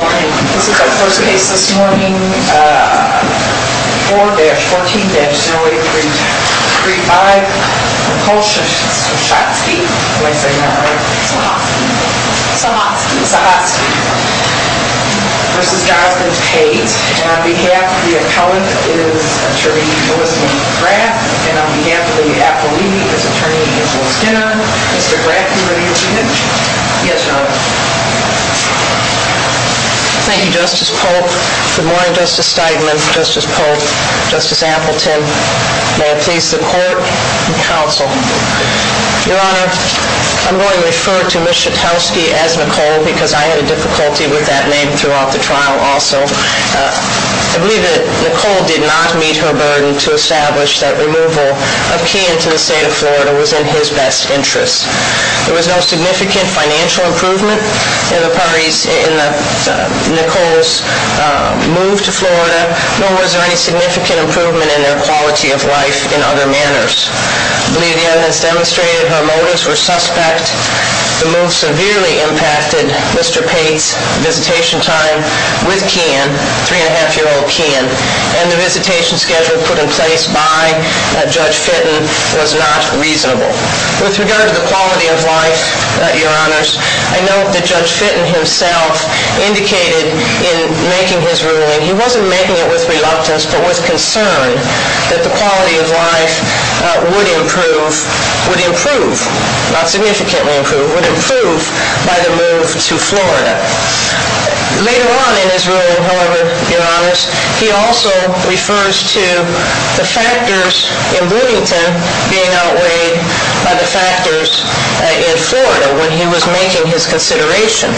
This is our first case this morning, 4-14-0835. Nicole Sochotsky, did I say that right? Sochotsky. Sochotsky. Sochotsky v. Pate. And on behalf of the appellant is Attorney Elizabeth Grant, and on behalf of the appellee is Attorney Angela Skinner. Mr. Grant, are you ready to begin? Yes, Your Honor. Thank you, Justice Polk. Good morning, Justice Steigman, Justice Polk, Justice Appleton. May it please the court and counsel. Your Honor, I'm going to refer to Ms. Sochotsky as Nicole because I had a difficulty with that name throughout the trial also. I believe that Nicole did not meet her burden to establish that removal of Key into the state of Florida was in his best interest. There was no significant financial improvement in Nicole's move to Florida, nor was there any significant improvement in her quality of life in other manners. I believe the evidence demonstrated her motives were suspect. The move severely impacted Mr. Pate's visitation time with Keyen, three-and-a-half-year-old Keyen, and the visitation schedule put in place by Judge Fitton was not reasonable. With regard to the quality of life, Your Honors, I note that Judge Fitton himself indicated in making his ruling, he wasn't making it with reluctance but with concern that the quality of life would improve, would improve, not significantly improve, would improve by the move to Florida. Later on in his ruling, however, Your Honors, he also refers to the factors in Bloomington being outweighed by the factors in Florida when he was making his consideration.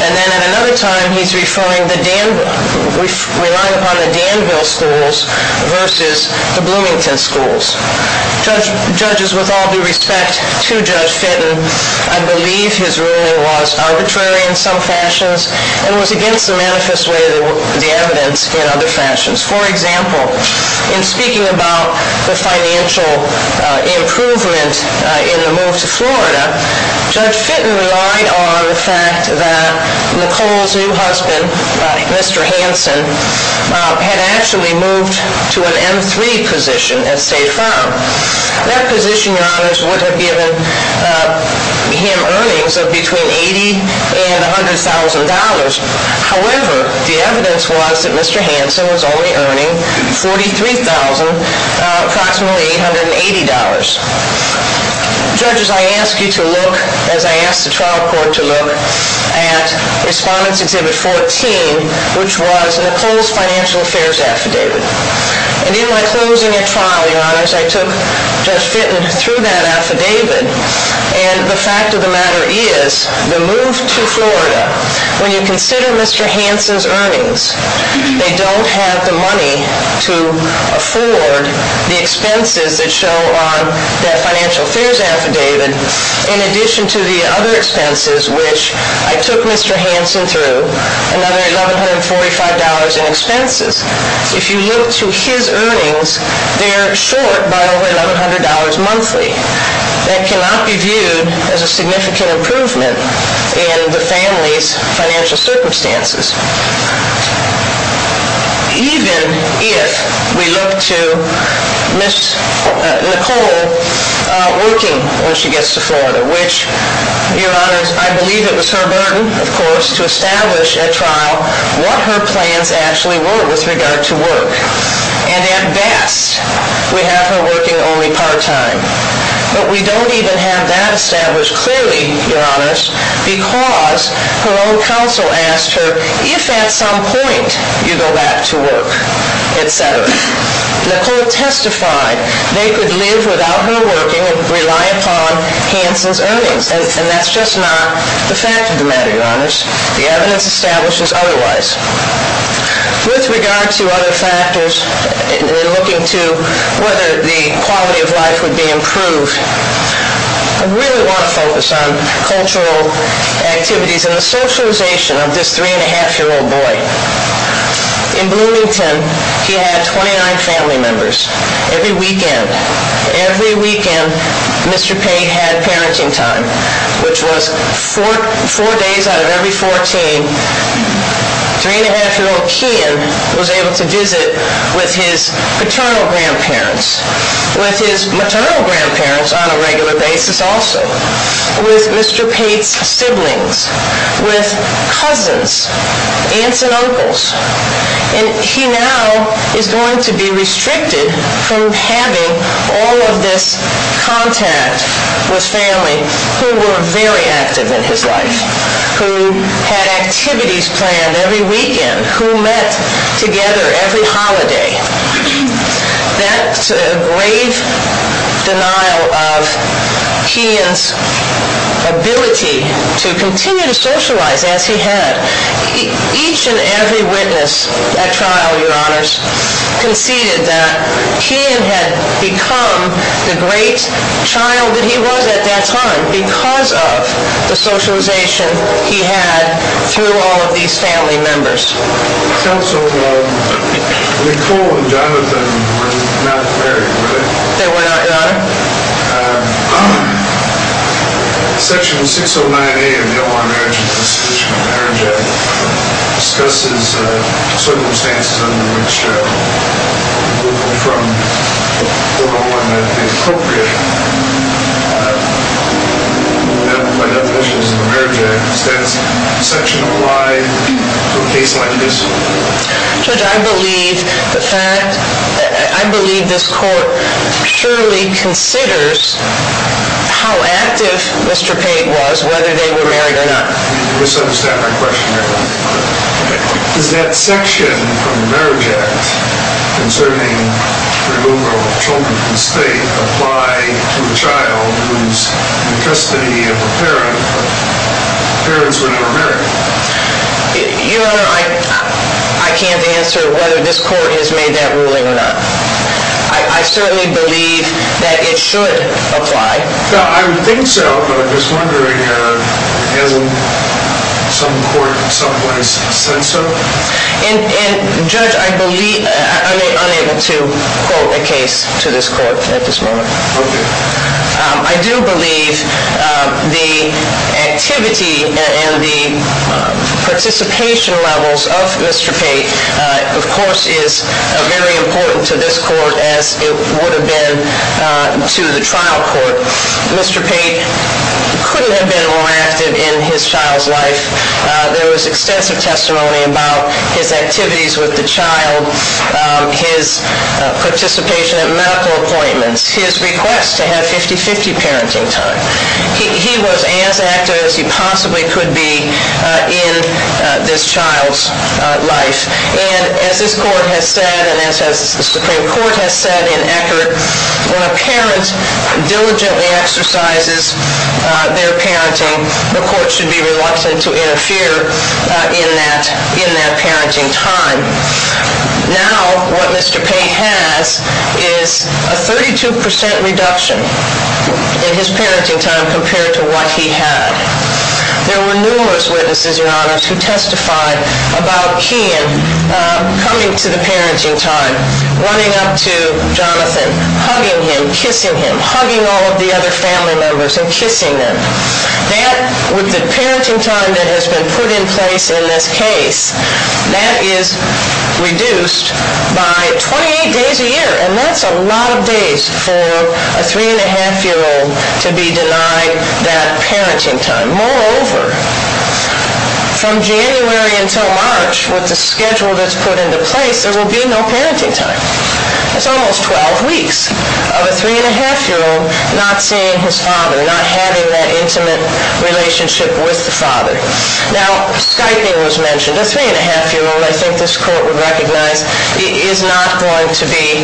And then at another time, he's referring to the Danville, relying upon the Danville schools versus the Bloomington schools. Judges, with all due respect to Judge Fitton, I believe his ruling was arbitrary in some fashions and was against the manifest way of the evidence in other fashions. For example, in speaking about the financial improvement in the move to Florida, Judge Fitton relied on the fact that Nicole's new husband, Mr. Hansen, had actually moved to an M3 position at State Farm. That position, Your Honors, would have given him earnings of between $80,000 and $100,000. However, the evidence was that Mr. Hansen was only earning $43,000, approximately $880. Judges, I ask you to look, as I ask the trial court to look, at Respondents Exhibit 14, which was Nicole's financial affairs affidavit. And in my closing of trial, Your Honors, I took Judge Fitton through that affidavit. And the fact of the matter is, the move to Florida, when you consider Mr. Hansen's earnings, they don't have the money to afford the expenses that show on that financial affairs affidavit, in addition to the other expenses, which I took Mr. Hansen through, another $1,145 in expenses. If you look to his earnings, they're short by over $1,100 monthly. That cannot be viewed as a significant improvement in the family's financial circumstances. Even if we look to Ms. Nicole working when she gets to Florida, which, Your Honors, I believe it was her burden, of course, to establish at trial what her plans actually were with regard to work. And at best, we have her working only part-time. But we don't even have that established clearly, Your Honors, because her own counsel asked her, if at some point you go back to work, et cetera. Nicole testified they could live without her working and rely upon Hansen's earnings. And that's just not the fact of the matter, Your Honors. The evidence establishes otherwise. With regard to other factors in looking to whether the quality of life would be improved, I really want to focus on cultural activities and the socialization of this three-and-a-half-year-old boy. In Bloomington, he had 29 family members every weekend. Every weekend, Mr. Pate had parenting time, which was four days out of every 14. Three-and-a-half-year-old Kian was able to visit with his paternal grandparents, with his maternal grandparents on a regular basis also, with Mr. Pate's siblings, with cousins, aunts and uncles. And he now is going to be restricted from having all of this contact with family who were very active in his life, who had activities planned every weekend, who met together every holiday. That's a grave denial of Kian's ability to continue to socialize as he had. Each and every witness at trial, Your Honors, conceded that Kian had become the great child that he was at that time because of the socialization he had through all of these family members. Counsel, Nicole and Jonathan were not married, were they? They were not, Your Honor. Section 609A of the Omaha Marriage and Constitutional Marriage Act discusses the circumstances under which a group from Oklahoma had been appropriated. By definition, it's in the Marriage Act. Does that section apply to a case like this? Judge, I believe this Court surely considers how active Mr. Pate was, whether they were married or not. You misunderstand my question, Your Honor. Does that section of the Marriage Act concerning the removal of children from the state apply to a child who's in the custody of a parent, but parents who are not married? Your Honor, I can't answer whether this Court has made that ruling or not. I certainly believe that it should apply. I would think so, but I'm just wondering, hasn't some Court in some ways said so? Judge, I'm unable to quote a case to this Court at this moment. Okay. I do believe the activity and the participation levels of Mr. Pate, of course, is very important to this Court as it would have been to the trial court. Mr. Pate couldn't have been more active in his child's life. There was extensive testimony about his activities with the child, his participation at medical appointments, his request to have 50-50 parenting time. He was as active as he possibly could be in this child's life. And as this Court has said and as the Supreme Court has said in Eckerd, when a parent diligently exercises their parenting, the Court should be reluctant to interfere in that parenting time. Now, what Mr. Pate has is a 32% reduction in his parenting time compared to what he had. There were numerous witnesses, Your Honors, who testified about Keehan coming to the parenting time, running up to Jonathan, hugging him, kissing him, hugging all of the other family members and kissing them. That, with the parenting time that has been put in place in this case, that is reduced by 28 days a year. And that's a lot of days for a three-and-a-half-year-old to be denied that parenting time. Moreover, from January until March, with the schedule that's put into place, there will be no parenting time. That's almost 12 weeks of a three-and-a-half-year-old not seeing his father, not having that intimate relationship with the father. Now, Skyping was mentioned. A three-and-a-half-year-old, I think this Court would recognize, is not going to be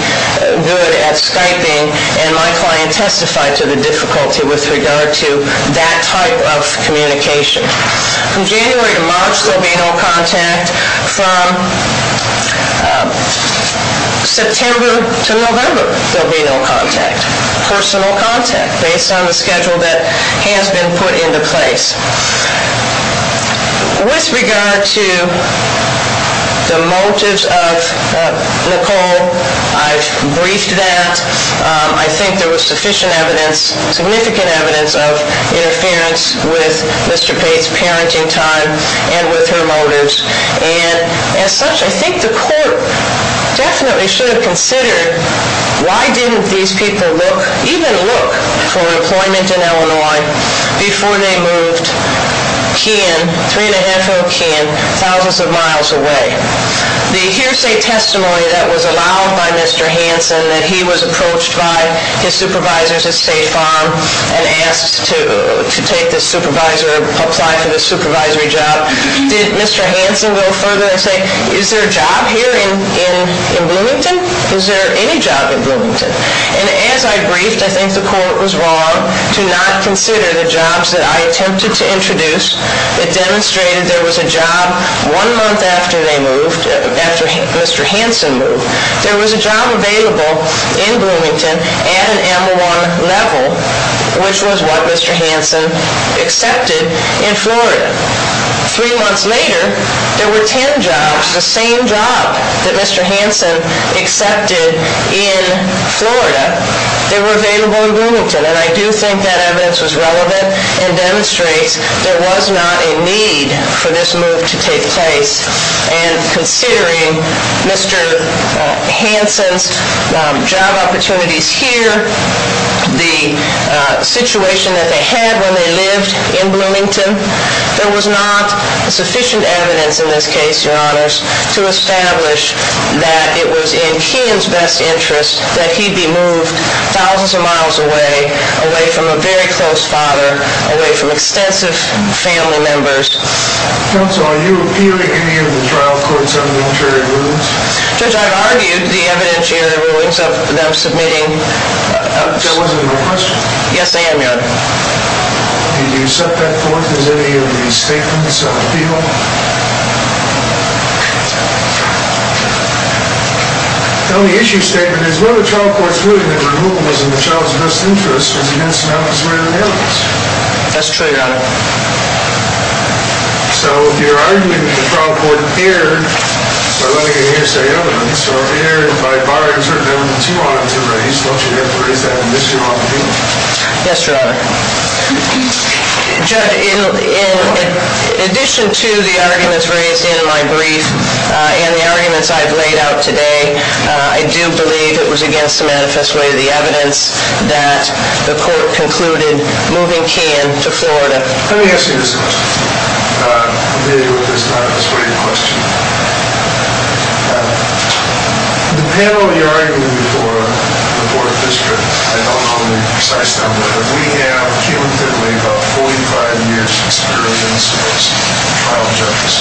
good at Skyping, and my client testified to the difficulty with regard to that type of communication. From January to March, there will be no contact. From September to November, there will be no contact. Personal contact, based on the schedule that has been put into place. With regard to the motives of Nicole, I've briefed that. I think there was sufficient evidence, significant evidence, of interference with Mr. Pate's parenting time and with her motives. And as such, I think the Court definitely should have considered, why didn't these people even look for employment in Illinois before they moved three-and-a-half-year-old Keehan thousands of miles away? The hearsay testimony that was allowed by Mr. Hanson, that he was approached by his supervisors at State Farm and asked to take the supervisor, apply for the supervisory job, did Mr. Hanson go further and say, is there a job here in Bloomington? Is there any job in Bloomington? And as I briefed, I think the Court was wrong to not consider the jobs that I attempted to introduce that demonstrated there was a job one month after they moved, after Mr. Hanson moved. There was a job available in Bloomington at an M01 level, which was what Mr. Hanson accepted in Florida. Three months later, there were ten jobs, the same job that Mr. Hanson accepted in Florida, that were available in Bloomington. And I do think that evidence was relevant and demonstrates there was not a need for this move to take place. And considering Mr. Hanson's job opportunities here, the situation that they had when they lived in Bloomington, there was not sufficient evidence in this case, Your Honors, to establish that it was in Keehan's best interest that he be moved thousands of miles away, away from a very close father, away from extensive family members. Counsel, are you appealing any of the trial court's unilateral rulings? Judge, I've argued the evidentiary rulings of them submitting... That wasn't my question. Yes, I am, Your Honor. Did you set that forth as any of the statements of the people? No. The only issue statement is whether the trial court's ruling that removal was in the child's best interest was against an office where there was evidence. That's true, Your Honor. So if you're arguing that the trial court erred by letting an hearsay evidence, or erred by barring certain elements you wanted to raise, don't you have to raise that in this case? Yes, Your Honor. Judge, in addition to the arguments raised in my brief and the arguments I've laid out today, I do believe it was against the manifesto of the evidence that the court concluded moving Keehan to Florida. Let me ask you this question. I'm familiar with this manifesto. What are your questions? The panel you're arguing before, the Board of Districts, I don't know the precise number, but we have, cumulatively, about 45 years of experience as trial judges.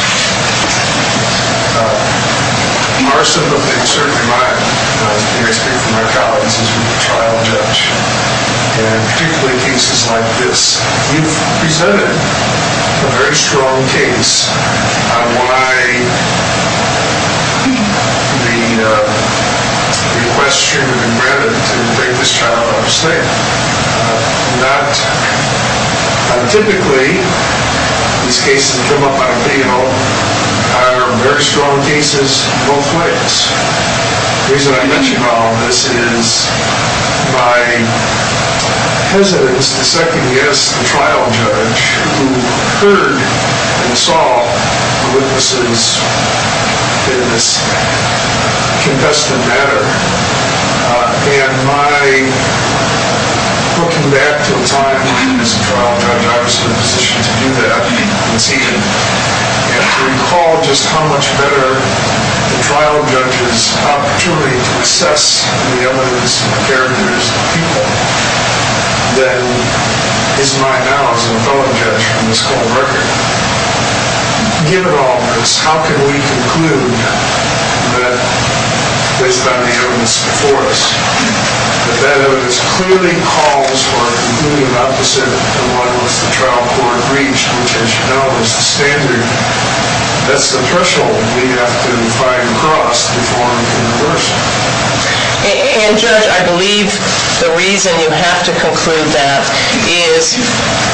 Our sympathy, and certainly mine, and I speak for my colleagues, is with the trial judge. And particularly cases like this. You've presented a very strong case on why the request should have been granted to bring this child out of slavery. Not untypically, these cases come up on a panel, are very strong cases both ways. The reason I mention all of this is my hesitance to second-guess the trial judge who heard and saw the witnesses in this contested matter. And my looking back to the time when he was a trial judge, I was in a position to do that, and to recall just how much better the trial judge's opportunity to assess the evidence, the characters, the people, than is mine now as a felon judge from this cold record. To begin with all of this, how can we conclude that based on the evidence before us, that that evidence clearly calls for a conclusive opposite of what the trial court reached, which, as you know, is the standard. That's the threshold we have to fight across before we can reverse it. And, Judge, I believe the reason you have to conclude that is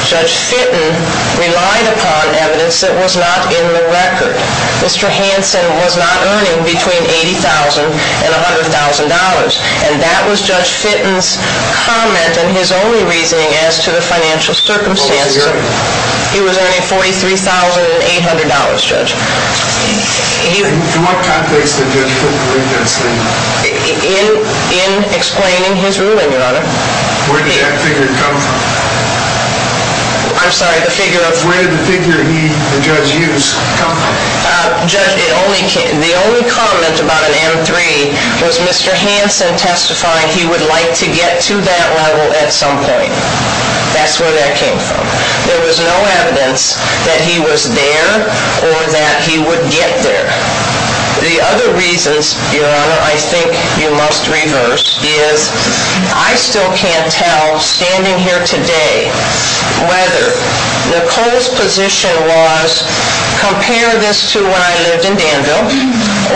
Judge Fitton relied upon evidence that was not in the record. Mr. Hansen was not earning between $80,000 and $100,000. And that was Judge Fitton's comment and his only reasoning as to the financial circumstances. He was earning $43,800, Judge. In what context did Judge Fitton read that statement? In explaining his ruling, Your Honor. Where did that figure come from? I'm sorry, the figure of? Where did the figure the judge used come from? The only comment about an M3 was Mr. Hansen testifying he would like to get to that level at some point. That's where that came from. There was no evidence that he was there or that he would get there. The other reasons, Your Honor, I think you must reverse is I still can't tell, standing here today, whether Nicole's position was compare this to when I lived in Danville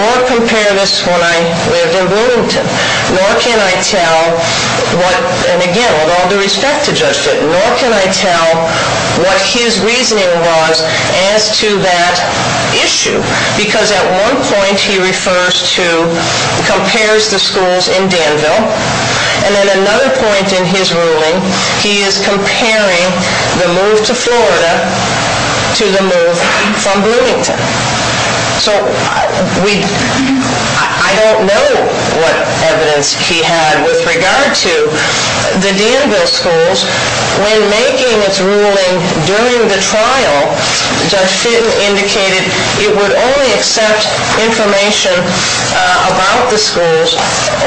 or compare this to when I lived in Bloomington. Nor can I tell what, and again, with all due respect to Judge Fitton, nor can I tell what his reasoning was as to that issue. Because at one point he refers to, compares the schools in Danville. And then another point in his ruling, he is comparing the move to Florida to the move from Bloomington. So I don't know what evidence he had with regard to the Danville schools. When making its ruling during the trial, Judge Fitton indicated it would only accept information about the schools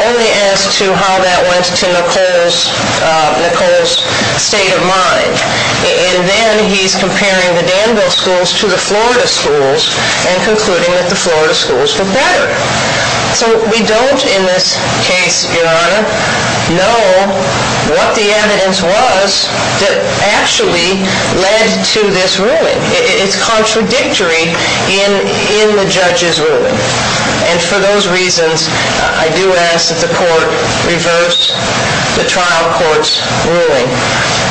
only as to how that went to Nicole's state of mind. And then he's comparing the Danville schools to the Florida schools and concluding that the Florida schools look better. So we don't, in this case, Your Honor, know what the evidence was that actually led to this ruling. And for those reasons, I do ask that the court reverse the trial court's ruling.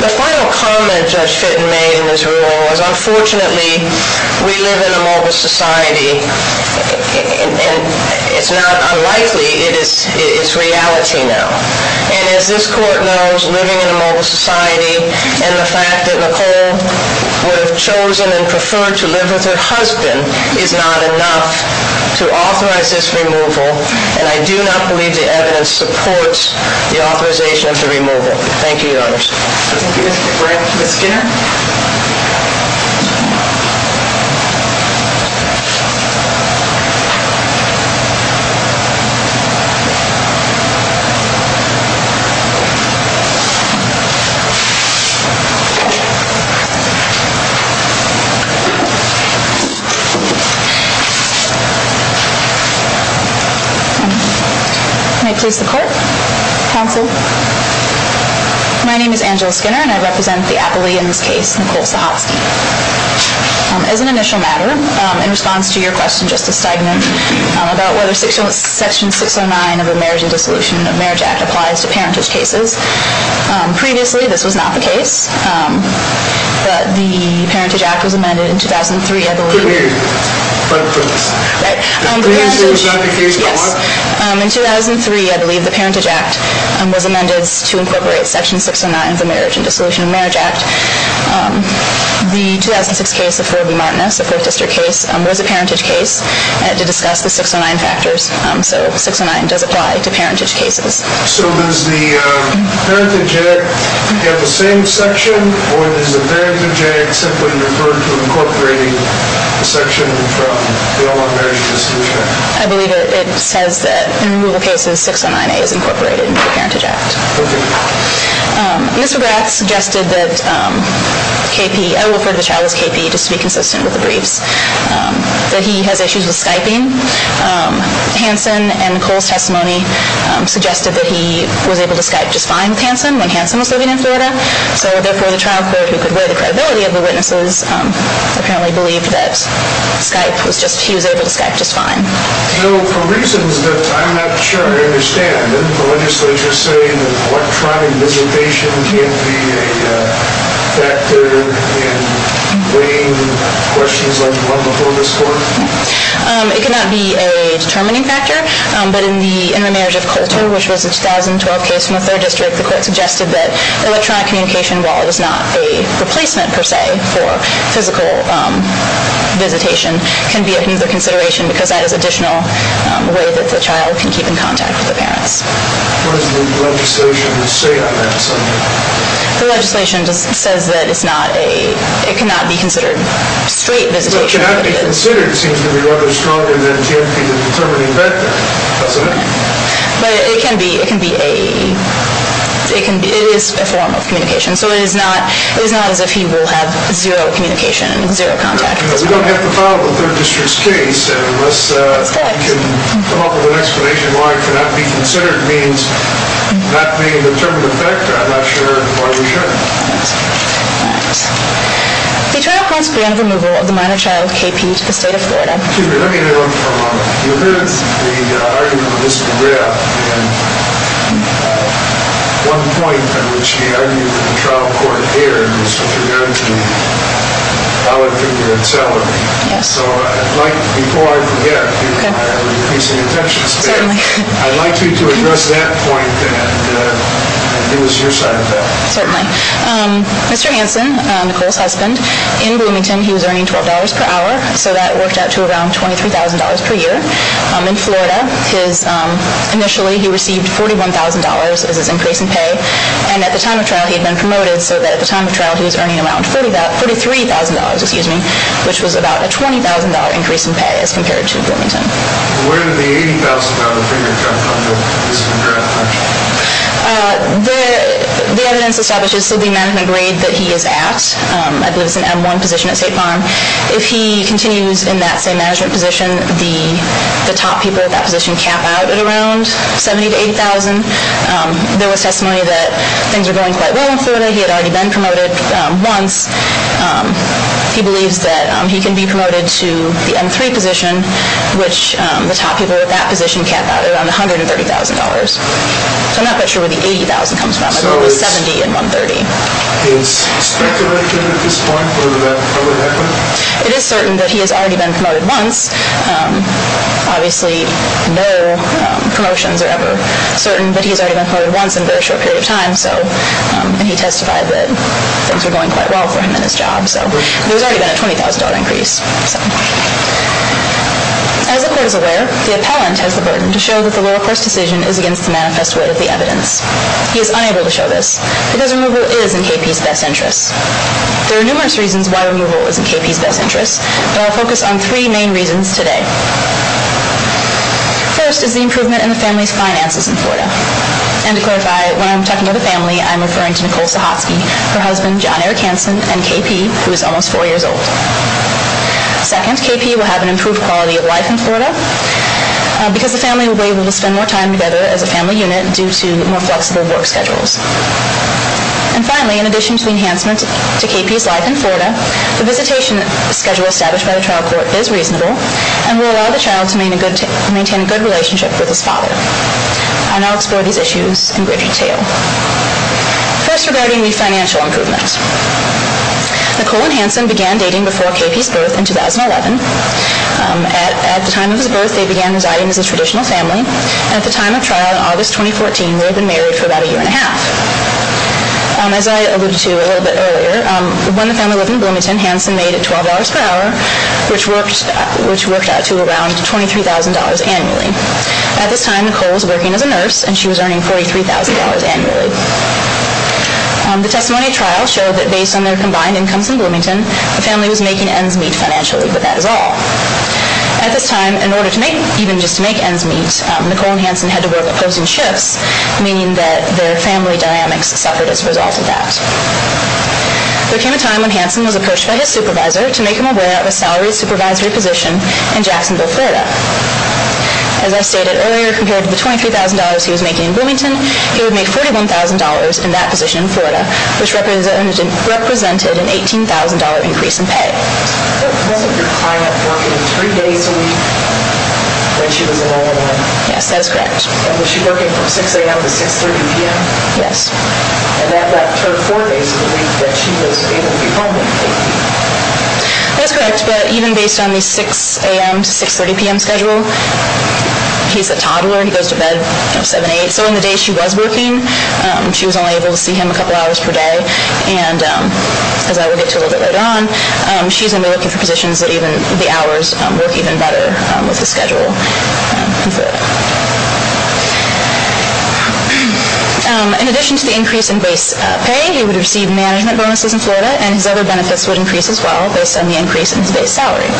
The final comment Judge Fitton made in his ruling was, unfortunately, we live in a mobile society. And it's not unlikely, it's reality now. And as this court knows, living in a mobile society and the fact that Nicole would have chosen and preferred to live with her husband is not enough to authorize this removal. And I do not believe the evidence supports the authorization of the removal. Thank you, Your Honor. Thank you, Mr. Grant. Ms. Skinner? May it please the court? Counsel? My name is Angela Skinner and I represent the appellee in this case, Nicole Sahovsky. As an initial matter, in response to your question, Justice Steigman, about whether Section 609 of the Marriage and Dissolution of Marriage Act applies to parentage cases, previously this was not the case. But the Parentage Act was amended in 2003, I believe. Could be. Right. Previously, it was not the case by law? Yes. In 2003, I believe, the Parentage Act was amended to incorporate Section 609 of the Marriage and Dissolution of Marriage Act. The 2006 case of Roe v. Martinez, a 4th District case, was a parentage case to discuss the 609 factors. So 609 does apply to parentage cases. So does the Parentage Act have the same section, or does the Parentage Act simply refer to incorporating the section from the All-Out Marriage and Dissolution Act? I believe it says that in removal cases, 609A is incorporated into the Parentage Act. Okay. Mr. Grant suggested that KP, I will refer to the child as KP just to be consistent with the briefs, that he has issues with Skyping. Hansen and Nicole's testimony suggested that he was able to Skype just fine with Hansen when Hansen was living in Florida. So therefore, the trial court, who could wear the credibility of the witnesses, apparently believed that he was able to Skype just fine. So for reasons that I'm not sure I understand, didn't the legislature say that electronic visitation can't be a factor in weighing questions like the one before this court? It could not be a determining factor. But in the intermarriage of Coulter, which was a 2012 case from the 3rd District, the court suggested that electronic communication, while it was not a replacement per se for physical visitation, can be another consideration because that is an additional way that the child can keep in contact with the parents. What does the legislation say on that subject? The legislation says that it cannot be considered straight visitation. So cannot be considered seems to be rather stronger than can be the determining factor, doesn't it? But it can be. It is a form of communication. So it is not as if he will have zero communication, zero contact with his parents. We don't have to file the 3rd District's case, and unless we can come up with an explanation why it cannot be considered means not being a determining factor, I'm not sure why we should. All right. The trial court's plan of removal of the minor child, KP, to the state of Florida. Let me interrupt for a moment. You heard the argument of Mr. Graff, and one point at which he argued with the trial court here was with regard to the dollar figure and salary. Yes. So I'd like, before I forget, to increase the attention span. Certainly. I'd like you to address that point and give us your side of that. Certainly. Mr. Hanson, Nicole's husband, in Bloomington he was earning $12 per hour, so that worked out to around $23,000 per year. In Florida, initially he received $41,000 as his increase in pay, and at the time of trial he had been promoted, so that at the time of trial he was earning around $43,000, which was about a $20,000 increase in pay as compared to Bloomington. Where did the $80,000 figure come from, Mr. Graff? The evidence establishes that the management grade that he is at, I believe it's an M1 position at State Farm, if he continues in that same management position, the top people at that position cap out at around $70,000 to $80,000. There was testimony that things were going quite well in Florida. He had already been promoted once. He believes that he can be promoted to the M3 position, which the top people at that position cap out at around $130,000. So I'm not quite sure where the $80,000 comes from. I believe it was $70,000 and $130,000. Is speculation at this point for the man to be promoted ever? It is certain that he has already been promoted once. Obviously no promotions are ever certain, but he has already been promoted once in a very short period of time, and he testified that things were going quite well for him in his job. There's already been a $20,000 increase. As the court is aware, the appellant has the burden to show that the lower court's decision is against the manifest weight of the evidence. He is unable to show this because removal is in KP's best interest. There are numerous reasons why removal is in KP's best interest, but I'll focus on three main reasons today. First is the improvement in the family's finances in Florida. And to clarify, when I'm talking about the family, I'm referring to Nicole Sahotsky, her husband, John Eric Hansen, and KP, who is almost four years old. Second, KP will have an improved quality of life in Florida because the family will be able to spend more time together as a family unit due to more flexible work schedules. And finally, in addition to the enhancement to KP's life in Florida, the visitation schedule established by the trial court is reasonable and will allow the child to maintain a good relationship with his father. And I'll explore these issues in great detail. First, regarding the financial improvements. Nicole and Hansen began dating before KP's birth in 2011. At the time of his birth, they began residing as a traditional family. At the time of trial in August 2014, they had been married for about a year and a half. As I alluded to a little bit earlier, when the family lived in Bloomington, Hansen made $12 per hour, which worked out to around $23,000 annually. At this time, Nicole was working as a nurse, and she was earning $43,000 annually. The testimony of trial showed that based on their combined incomes in Bloomington, the family was making ends meet financially, but that is all. At this time, in order to make even just to make ends meet, Nicole and Hansen had to work opposing shifts, meaning that their family dynamics suffered as a result of that. There came a time when Hansen was approached by his supervisor to make him aware of a salaried supervisory position in Jacksonville, Florida. As I stated earlier, compared to the $23,000 he was making in Bloomington, he would make $41,000 in that position in Florida, which represented an $18,000 increase in pay. That's correct, but even based on the 6 a.m. to 6.30 p.m. schedule, he's a toddler, he goes to bed at 7 or 8, so in the days she was working, she was only able to see him a couple hours per day, and as I will get to a little bit later on, she's going to be looking for positions that even the hours work even better with his schedule in Florida. In addition to the increase in base pay, he would receive management bonuses in Florida, and his other benefits would increase as well based on the increase in his base salary.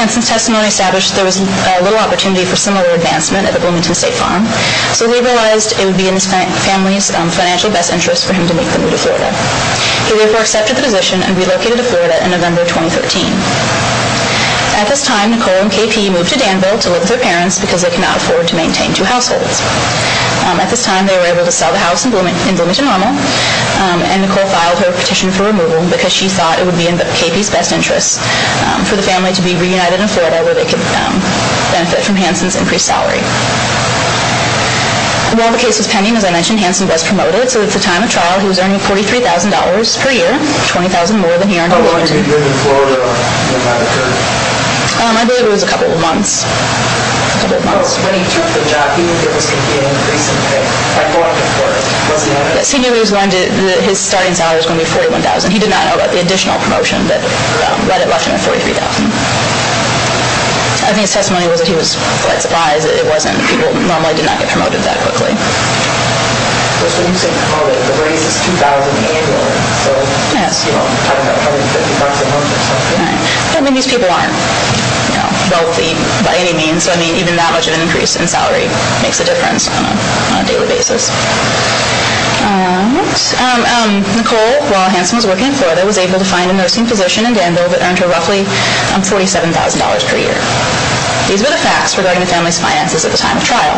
Hansen's testimony established there was little opportunity for similar advancement at the Bloomington State Farm, so they realized it would be in his family's financial best interest for him to make the move to Florida. He therefore accepted the position and relocated to Florida in November 2013. At this time, Nicole and KP moved to Danville to live with their parents because they could not afford to maintain two households. At this time, they were able to sell the house in Bloomington Normal, and Nicole filed her petition for removal because she thought it would be in KP's best interest for the family to be reunited in Florida where they could benefit from Hansen's increased salary. While the case was pending, as I mentioned, Hansen was promoted, so at the time of trial he was earning $43,000 per year, $20,000 more than he earned in Bloomington. How long had he been in Florida? I believe it was a couple of months. When he took the job, he was getting an increase in pay. I thought it was worth it. Was it? He knew his starting salary was going to be $41,000. He did not know about the additional promotion that left him at $43,000. I think his testimony was that he was quite surprised that people normally did not get promoted that quickly. So you said, Nicole, that the raise is $2,000 annually. Yes. So you're talking about $150 a month or something. These people aren't wealthy by any means, so even that much of an increase in salary makes a difference on a daily basis. All right. Nicole, while Hansen was working in Florida, was able to find a nursing position in Danville that earned her roughly $47,000 per year. These were the facts regarding the family's finances at the time of trial.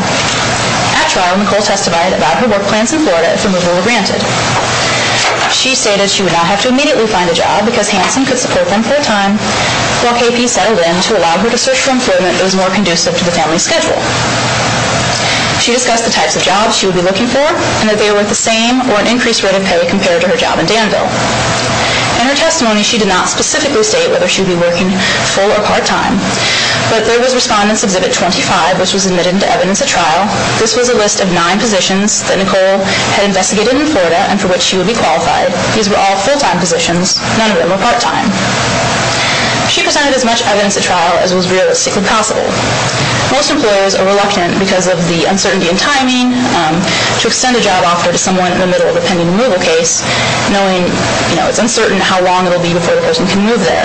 At trial, Nicole testified about her work plans in Florida if removal were granted. She stated she would not have to immediately find a job because Hansen could support them full-time. While KP settled in to allow her to search for employment, it was more conducive to the family's schedule. She discussed the types of jobs she would be looking for and that they were worth the same or an increased rate of pay compared to her job in Danville. In her testimony, she did not specifically state whether she would be working full or part-time, but there was Respondent's Exhibit 25, which was admitted to evidence at trial. This was a list of nine positions that Nicole had investigated in Florida and for which she would be qualified. These were all full-time positions. None of them were part-time. She presented as much evidence at trial as was realistically possible. Most employers are reluctant, because of the uncertainty in timing, to extend a job offer to someone in the middle of a pending removal case, knowing it's uncertain how long it will be before a person can move there.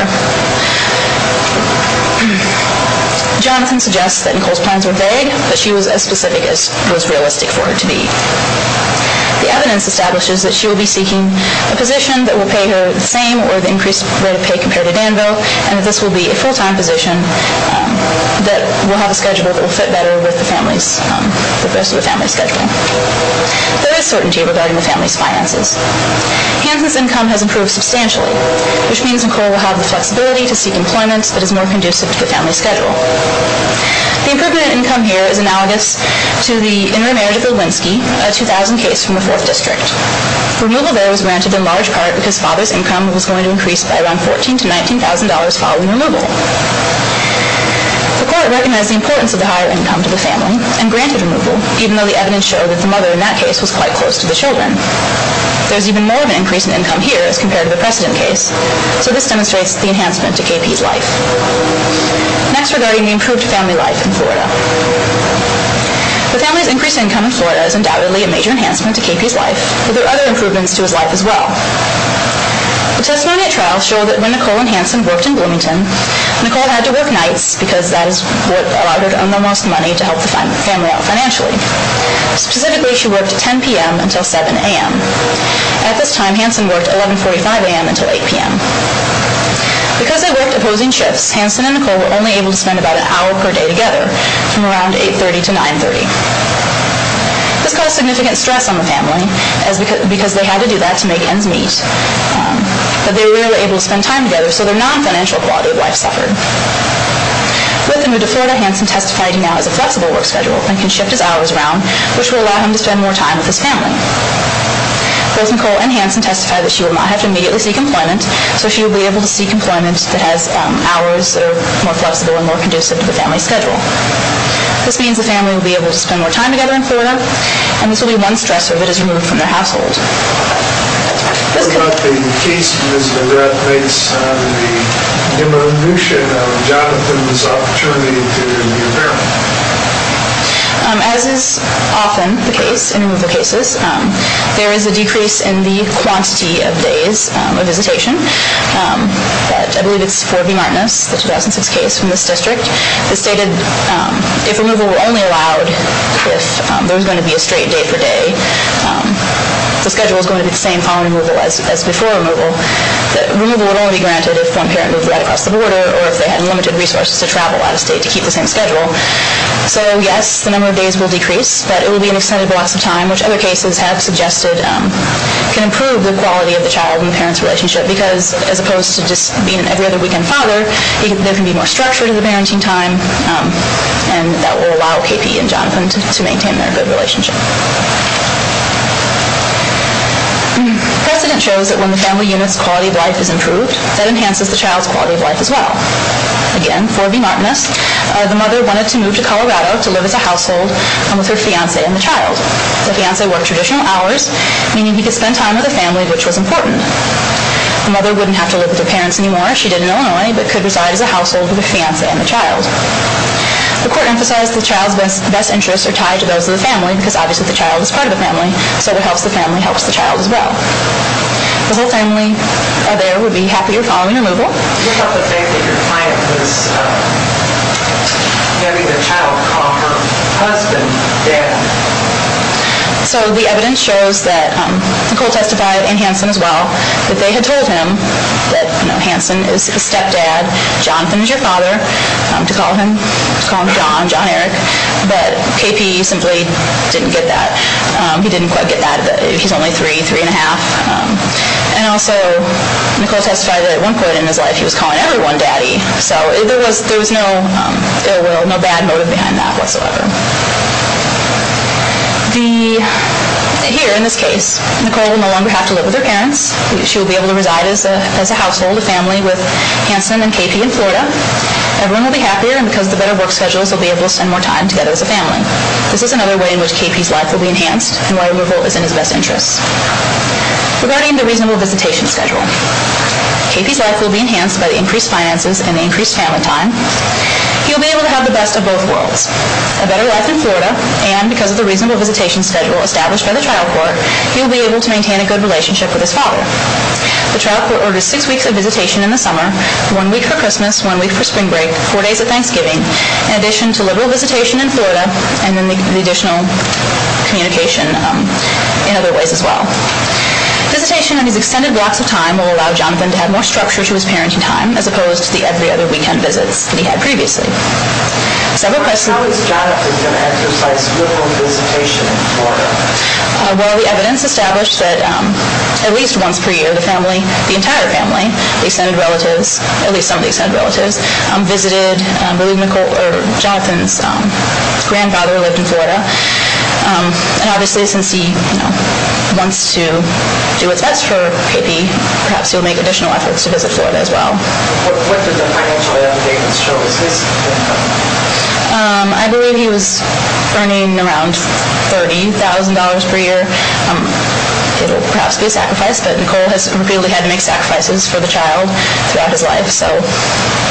Johnson suggests that Nicole's plans were vague, but she was as specific as was realistic for her to be. The evidence establishes that she will be seeking a position that will pay her the same or the increased rate of pay compared to Danville, and that this will be a full-time position that will have a schedule that will fit better with the rest of the family's scheduling. There is certainty regarding the family's finances. Hansen's income has improved substantially, which means Nicole will have the flexibility to seek employment that is more conducive to the family's schedule. The improvement in income here is analogous to the intermarriage of Lewinsky, a 2000 case from the 4th District. Removal there was granted in large part because father's income was going to increase by around $14,000 to $19,000 following removal. The court recognized the importance of the higher income to the family and granted removal, even though the evidence showed that the mother in that case was quite close to the children. There is even more of an increase in income here as compared to the precedent case, so this demonstrates the enhancement to KP's life. Next, regarding the improved family life in Florida. The family's increased income in Florida is undoubtedly a major enhancement to KP's life, but there are other improvements to his life as well. The testimony at trial showed that when Nicole and Hansen worked in Bloomington, Nicole had to work nights because that allowed her to earn the most money to help the family out financially. Specifically, she worked at 10 p.m. until 7 a.m. At this time, Hansen worked 11.45 a.m. until 8 p.m. Because they worked opposing shifts, Hansen and Nicole were only able to spend about an hour per day together, from around 8.30 to 9.30. This caused significant stress on the family because they had to do that to make ends meet, but they were rarely able to spend time together, so their non-financial quality of life suffered. With the move to Florida, Hansen testified he now has a flexible work schedule and can shift his hours around, which will allow him to spend more time with his family. Both Nicole and Hansen testified that she would not have to immediately seek employment, so she would be able to seek employment that has hours that are more flexible and more conducive to the family's schedule. This means the family would be able to spend more time together in Florida, and this would be one stressor that is removed from their household. What about the case that makes the diminution of Jonathan's opportunity to be a parent? As is often the case in a number of cases, there is a decrease in the quantity of days of visitation. I believe it's for V. Martinez, the 2006 case from this district. It stated if removal were only allowed if there was going to be a straight day-for-day, the schedule was going to be the same following removal as before removal. Removal would only be granted if one parent moved right across the border or if they had limited resources to travel out of state to keep the same schedule. So, yes, the number of days will decrease, but it will be in extended blocks of time, which other cases have suggested can improve the quality of the child and parent's relationship because as opposed to just being an every-other-weekend father, there can be more structure to the parenting time, and that will allow KP and Jonathan to maintain their good relationship. Precedent shows that when the family unit's quality of life is improved, that enhances the child's quality of life as well. Again, for V. Martinez, the mother wanted to move to Colorado to live as a household and with her fiancé and the child. The fiancé worked traditional hours, meaning he could spend time with the family, which was important. The mother wouldn't have to live with her parents anymore. She did in Illinois, but could reside as a household with her fiancé and the child. The court emphasized the child's best interests are tied to those of the family because obviously the child is part of the family, so what helps the family helps the child as well. The whole family there would be happier following removal. What about the fact that your client was having the child call her husband dad? So the evidence shows that Nicole testified and Hanson as well, that they had told him that Hanson is a stepdad, Jonathan is your father, to call him John, John Eric, but KP simply didn't get that. He didn't quite get that. He's only three, three and a half. And also Nicole testified that at one point in his life he was calling everyone daddy, so there was no ill will, no bad motive behind that whatsoever. Here in this case, Nicole will no longer have to live with her parents. She will be able to reside as a household, a family with Hanson and KP in Florida. Everyone will be happier and because of the better work schedules, they'll be able to spend more time together as a family. This is another way in which KP's life will be enhanced and why a revolt is in his best interest. Regarding the reasonable visitation schedule, KP's life will be enhanced by the increased finances and the increased family time. He'll be able to have the best of both worlds, a better life in Florida, and because of the reasonable visitation schedule established by the trial court, he'll be able to maintain a good relationship with his father. The trial court orders six weeks of visitation in the summer, one week for Christmas, one week for spring break, four days of Thanksgiving, in addition to liberal visitation in Florida and the additional communication in other ways as well. Visitation on these extended blocks of time will allow Jonathan to have more structure to his parenting time as opposed to the every other weekend visits that he had previously. How is Jonathan going to exercise liberal visitation in Florida? Well, the evidence established that at least once per year the family, the entire family, the extended relatives, at least some of the extended relatives, visited Jonathan's grandfather who lived in Florida. Obviously, since he wants to do what's best for KP, perhaps he'll make additional efforts to visit Florida as well. What did the financial evidence show? I believe he was earning around $30,000 per year. It will perhaps be a sacrifice, but Nicole has repeatedly had to make sacrifices for the child throughout his life. So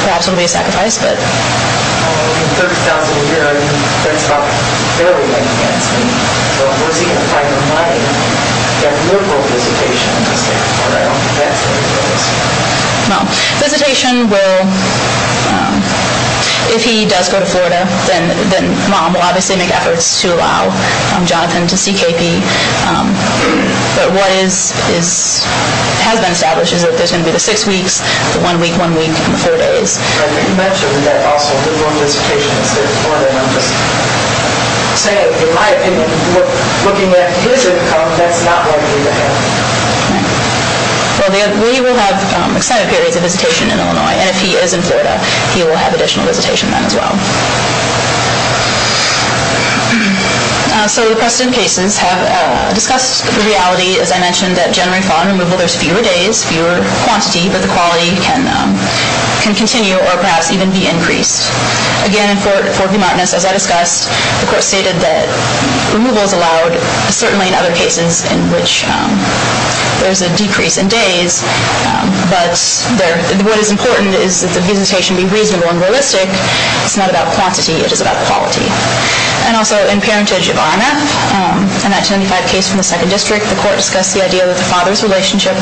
perhaps it will be a sacrifice. In $30,000 a year, I mean, that's about fairly likely. But was he going to find the money for that liberal visitation to stay in Florida? I don't think that's the reason for this. Well, visitation will, if he does go to Florida, then Mom will obviously make efforts to allow Jonathan to see KP. But what has been established is that there's going to be the six weeks, the one week, one week, and the four days. You mentioned that also liberal visitation instead of Florida. I'm just saying, in my opinion, looking at his income, that's not likely to happen. Well, we will have extended periods of visitation in Illinois. And if he is in Florida, he will have additional visitation then as well. So the precedent cases have discussed the reality, as I mentioned, that January 5 removal, there's fewer days, fewer quantity, but the quality can continue or perhaps even be increased. Again, in Fort V. Martinez, as I discussed, the court stated that removal is allowed, certainly in other cases in which there's a decrease in days. But what is important is that the visitation be reasonable and realistic. It's not about quantity. It is about quality. And also in parentage of RMF, in that 25 case from the second district, the court discussed the idea that the father's relationship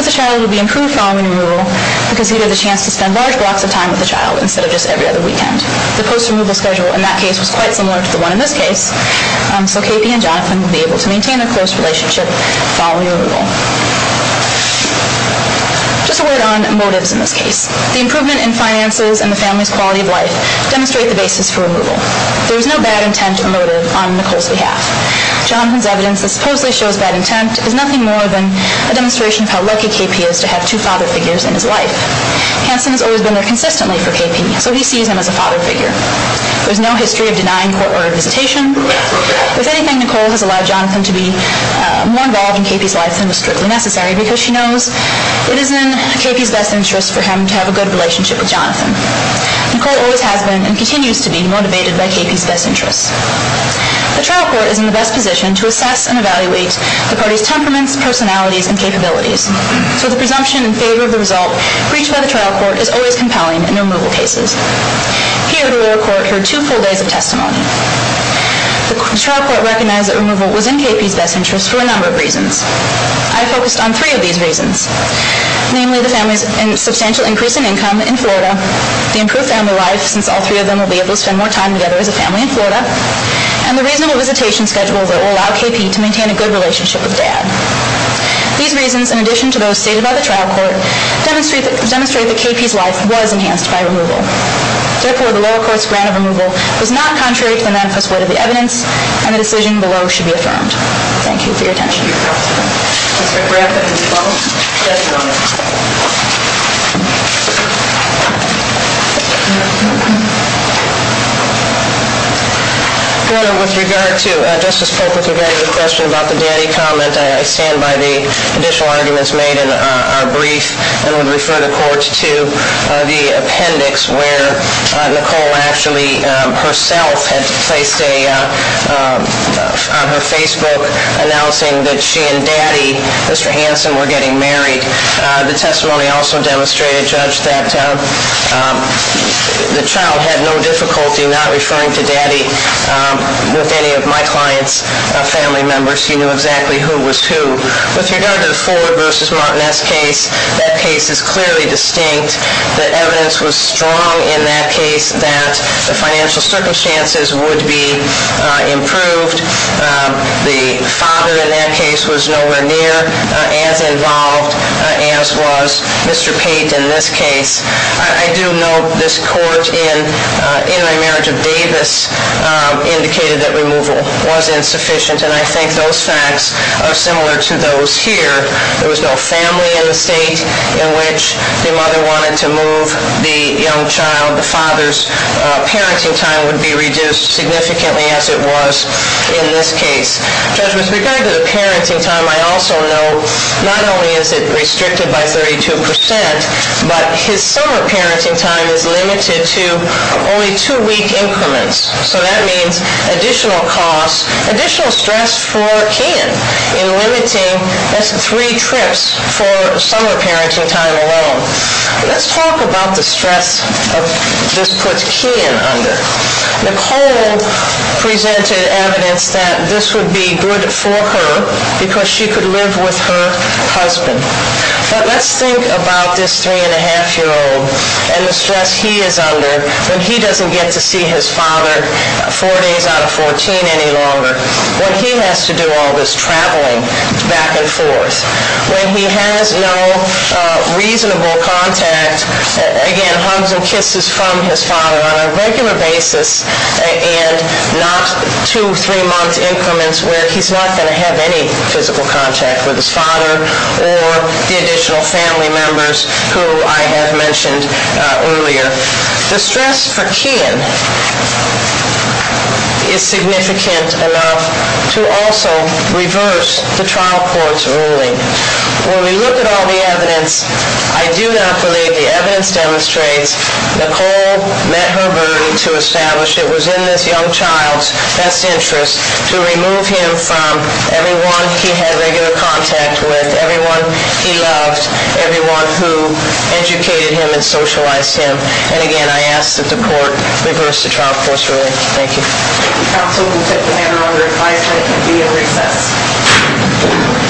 with the child would be improved following removal because he would have the chance to spend large blocks of time with the child instead of just every other weekend. The post-removal schedule in that case was quite similar to the one in this case. So KP and Jonathan would be able to maintain a close relationship following removal. Just a word on motives in this case. The improvement in finances and the family's quality of life demonstrate the basis for removal. There's no bad intent or motive on Nicole's behalf. Jonathan's evidence that supposedly shows bad intent is nothing more than a demonstration of how lucky KP is to have two father figures in his life. Hanson has always been there consistently for KP, so he sees him as a father figure. There's no history of denying court-ordered visitation. If anything, Nicole has allowed Jonathan to be more involved in KP's life than was strictly necessary because she knows it is in KP's best interest for him to have a good relationship with Jonathan. Nicole always has been and continues to be motivated by KP's best interests. The trial court is in the best position to assess and evaluate the parties' temperaments, personalities, and capabilities. So the presumption in favor of the result reached by the trial court is always compelling in removal cases. Here, the lower court heard two full days of testimony. The trial court recognized that removal was in KP's best interest for a number of reasons. I focused on three of these reasons, namely the family's substantial increase in income in Florida, the improved family life since all three of them will be able to spend more time together as a family in Florida, and the reasonable visitation schedule that will allow KP to maintain a good relationship with Dad. These reasons, in addition to those stated by the trial court, demonstrate that KP's life was enhanced by removal. Therefore, the lower court's grant of removal was not contrary to the manifest weight of the evidence and the decision below should be affirmed. Thank you for your attention. Thank you, counsel. Mr. Bradford, will you follow? Yes, Your Honor. Your Honor, with regard to Justice Polk, with regard to the question about the daddy comment, I stand by the additional arguments made in our brief and would refer the court to the appendix where Nicole actually herself had placed a, on her Facebook, announcing that she and Daddy, Mr. Hanson, were getting married. The testimony also demonstrated, Judge, that the child had no difficulty not referring to Daddy with any of my client's family members. He knew exactly who was who. With regard to the Ford v. Martinez case, that case is clearly distinct. The evidence was strong in that case that the financial circumstances would be improved. The father in that case was nowhere near as involved as was Mr. Pate in this case. I do note this court in intermarriage of Davis indicated that removal was insufficient, and I think those facts are similar to those here. There was no family in the state in which the mother wanted to move the young child. The father's parenting time would be reduced significantly as it was in this case. Judge, with regard to the parenting time, I also note not only is it restricted by 32 percent, but his summer parenting time is limited to only two-week increments. So that means additional costs, additional stress for Keehan in limiting his three trips for summer parenting time alone. Let's talk about the stress this puts Keehan under. Nicole presented evidence that this would be good for her because she could live with her husband. But let's think about this 3-1⁄2-year-old and the stress he is under when he doesn't get to see his father four days out of 14 any longer, when he has to do all this traveling back and forth, when he has no reasonable contact, again, hugs and kisses from his father on a regular basis and not two, three-month increments where he's not going to have any physical contact with his father or the additional family members who I have mentioned earlier. The stress for Keehan is significant enough to also reverse the trial court's ruling. When we look at all the evidence, I do not believe the evidence demonstrates Nicole met her burden to establish it was in this young child's best interest to remove him from everyone he had regular contact with, everyone he loved, everyone who educated him and socialized him. And again, I ask that the court reverse the trial court's ruling. Thank you. Counsel will take the matter under advisement and be in recess.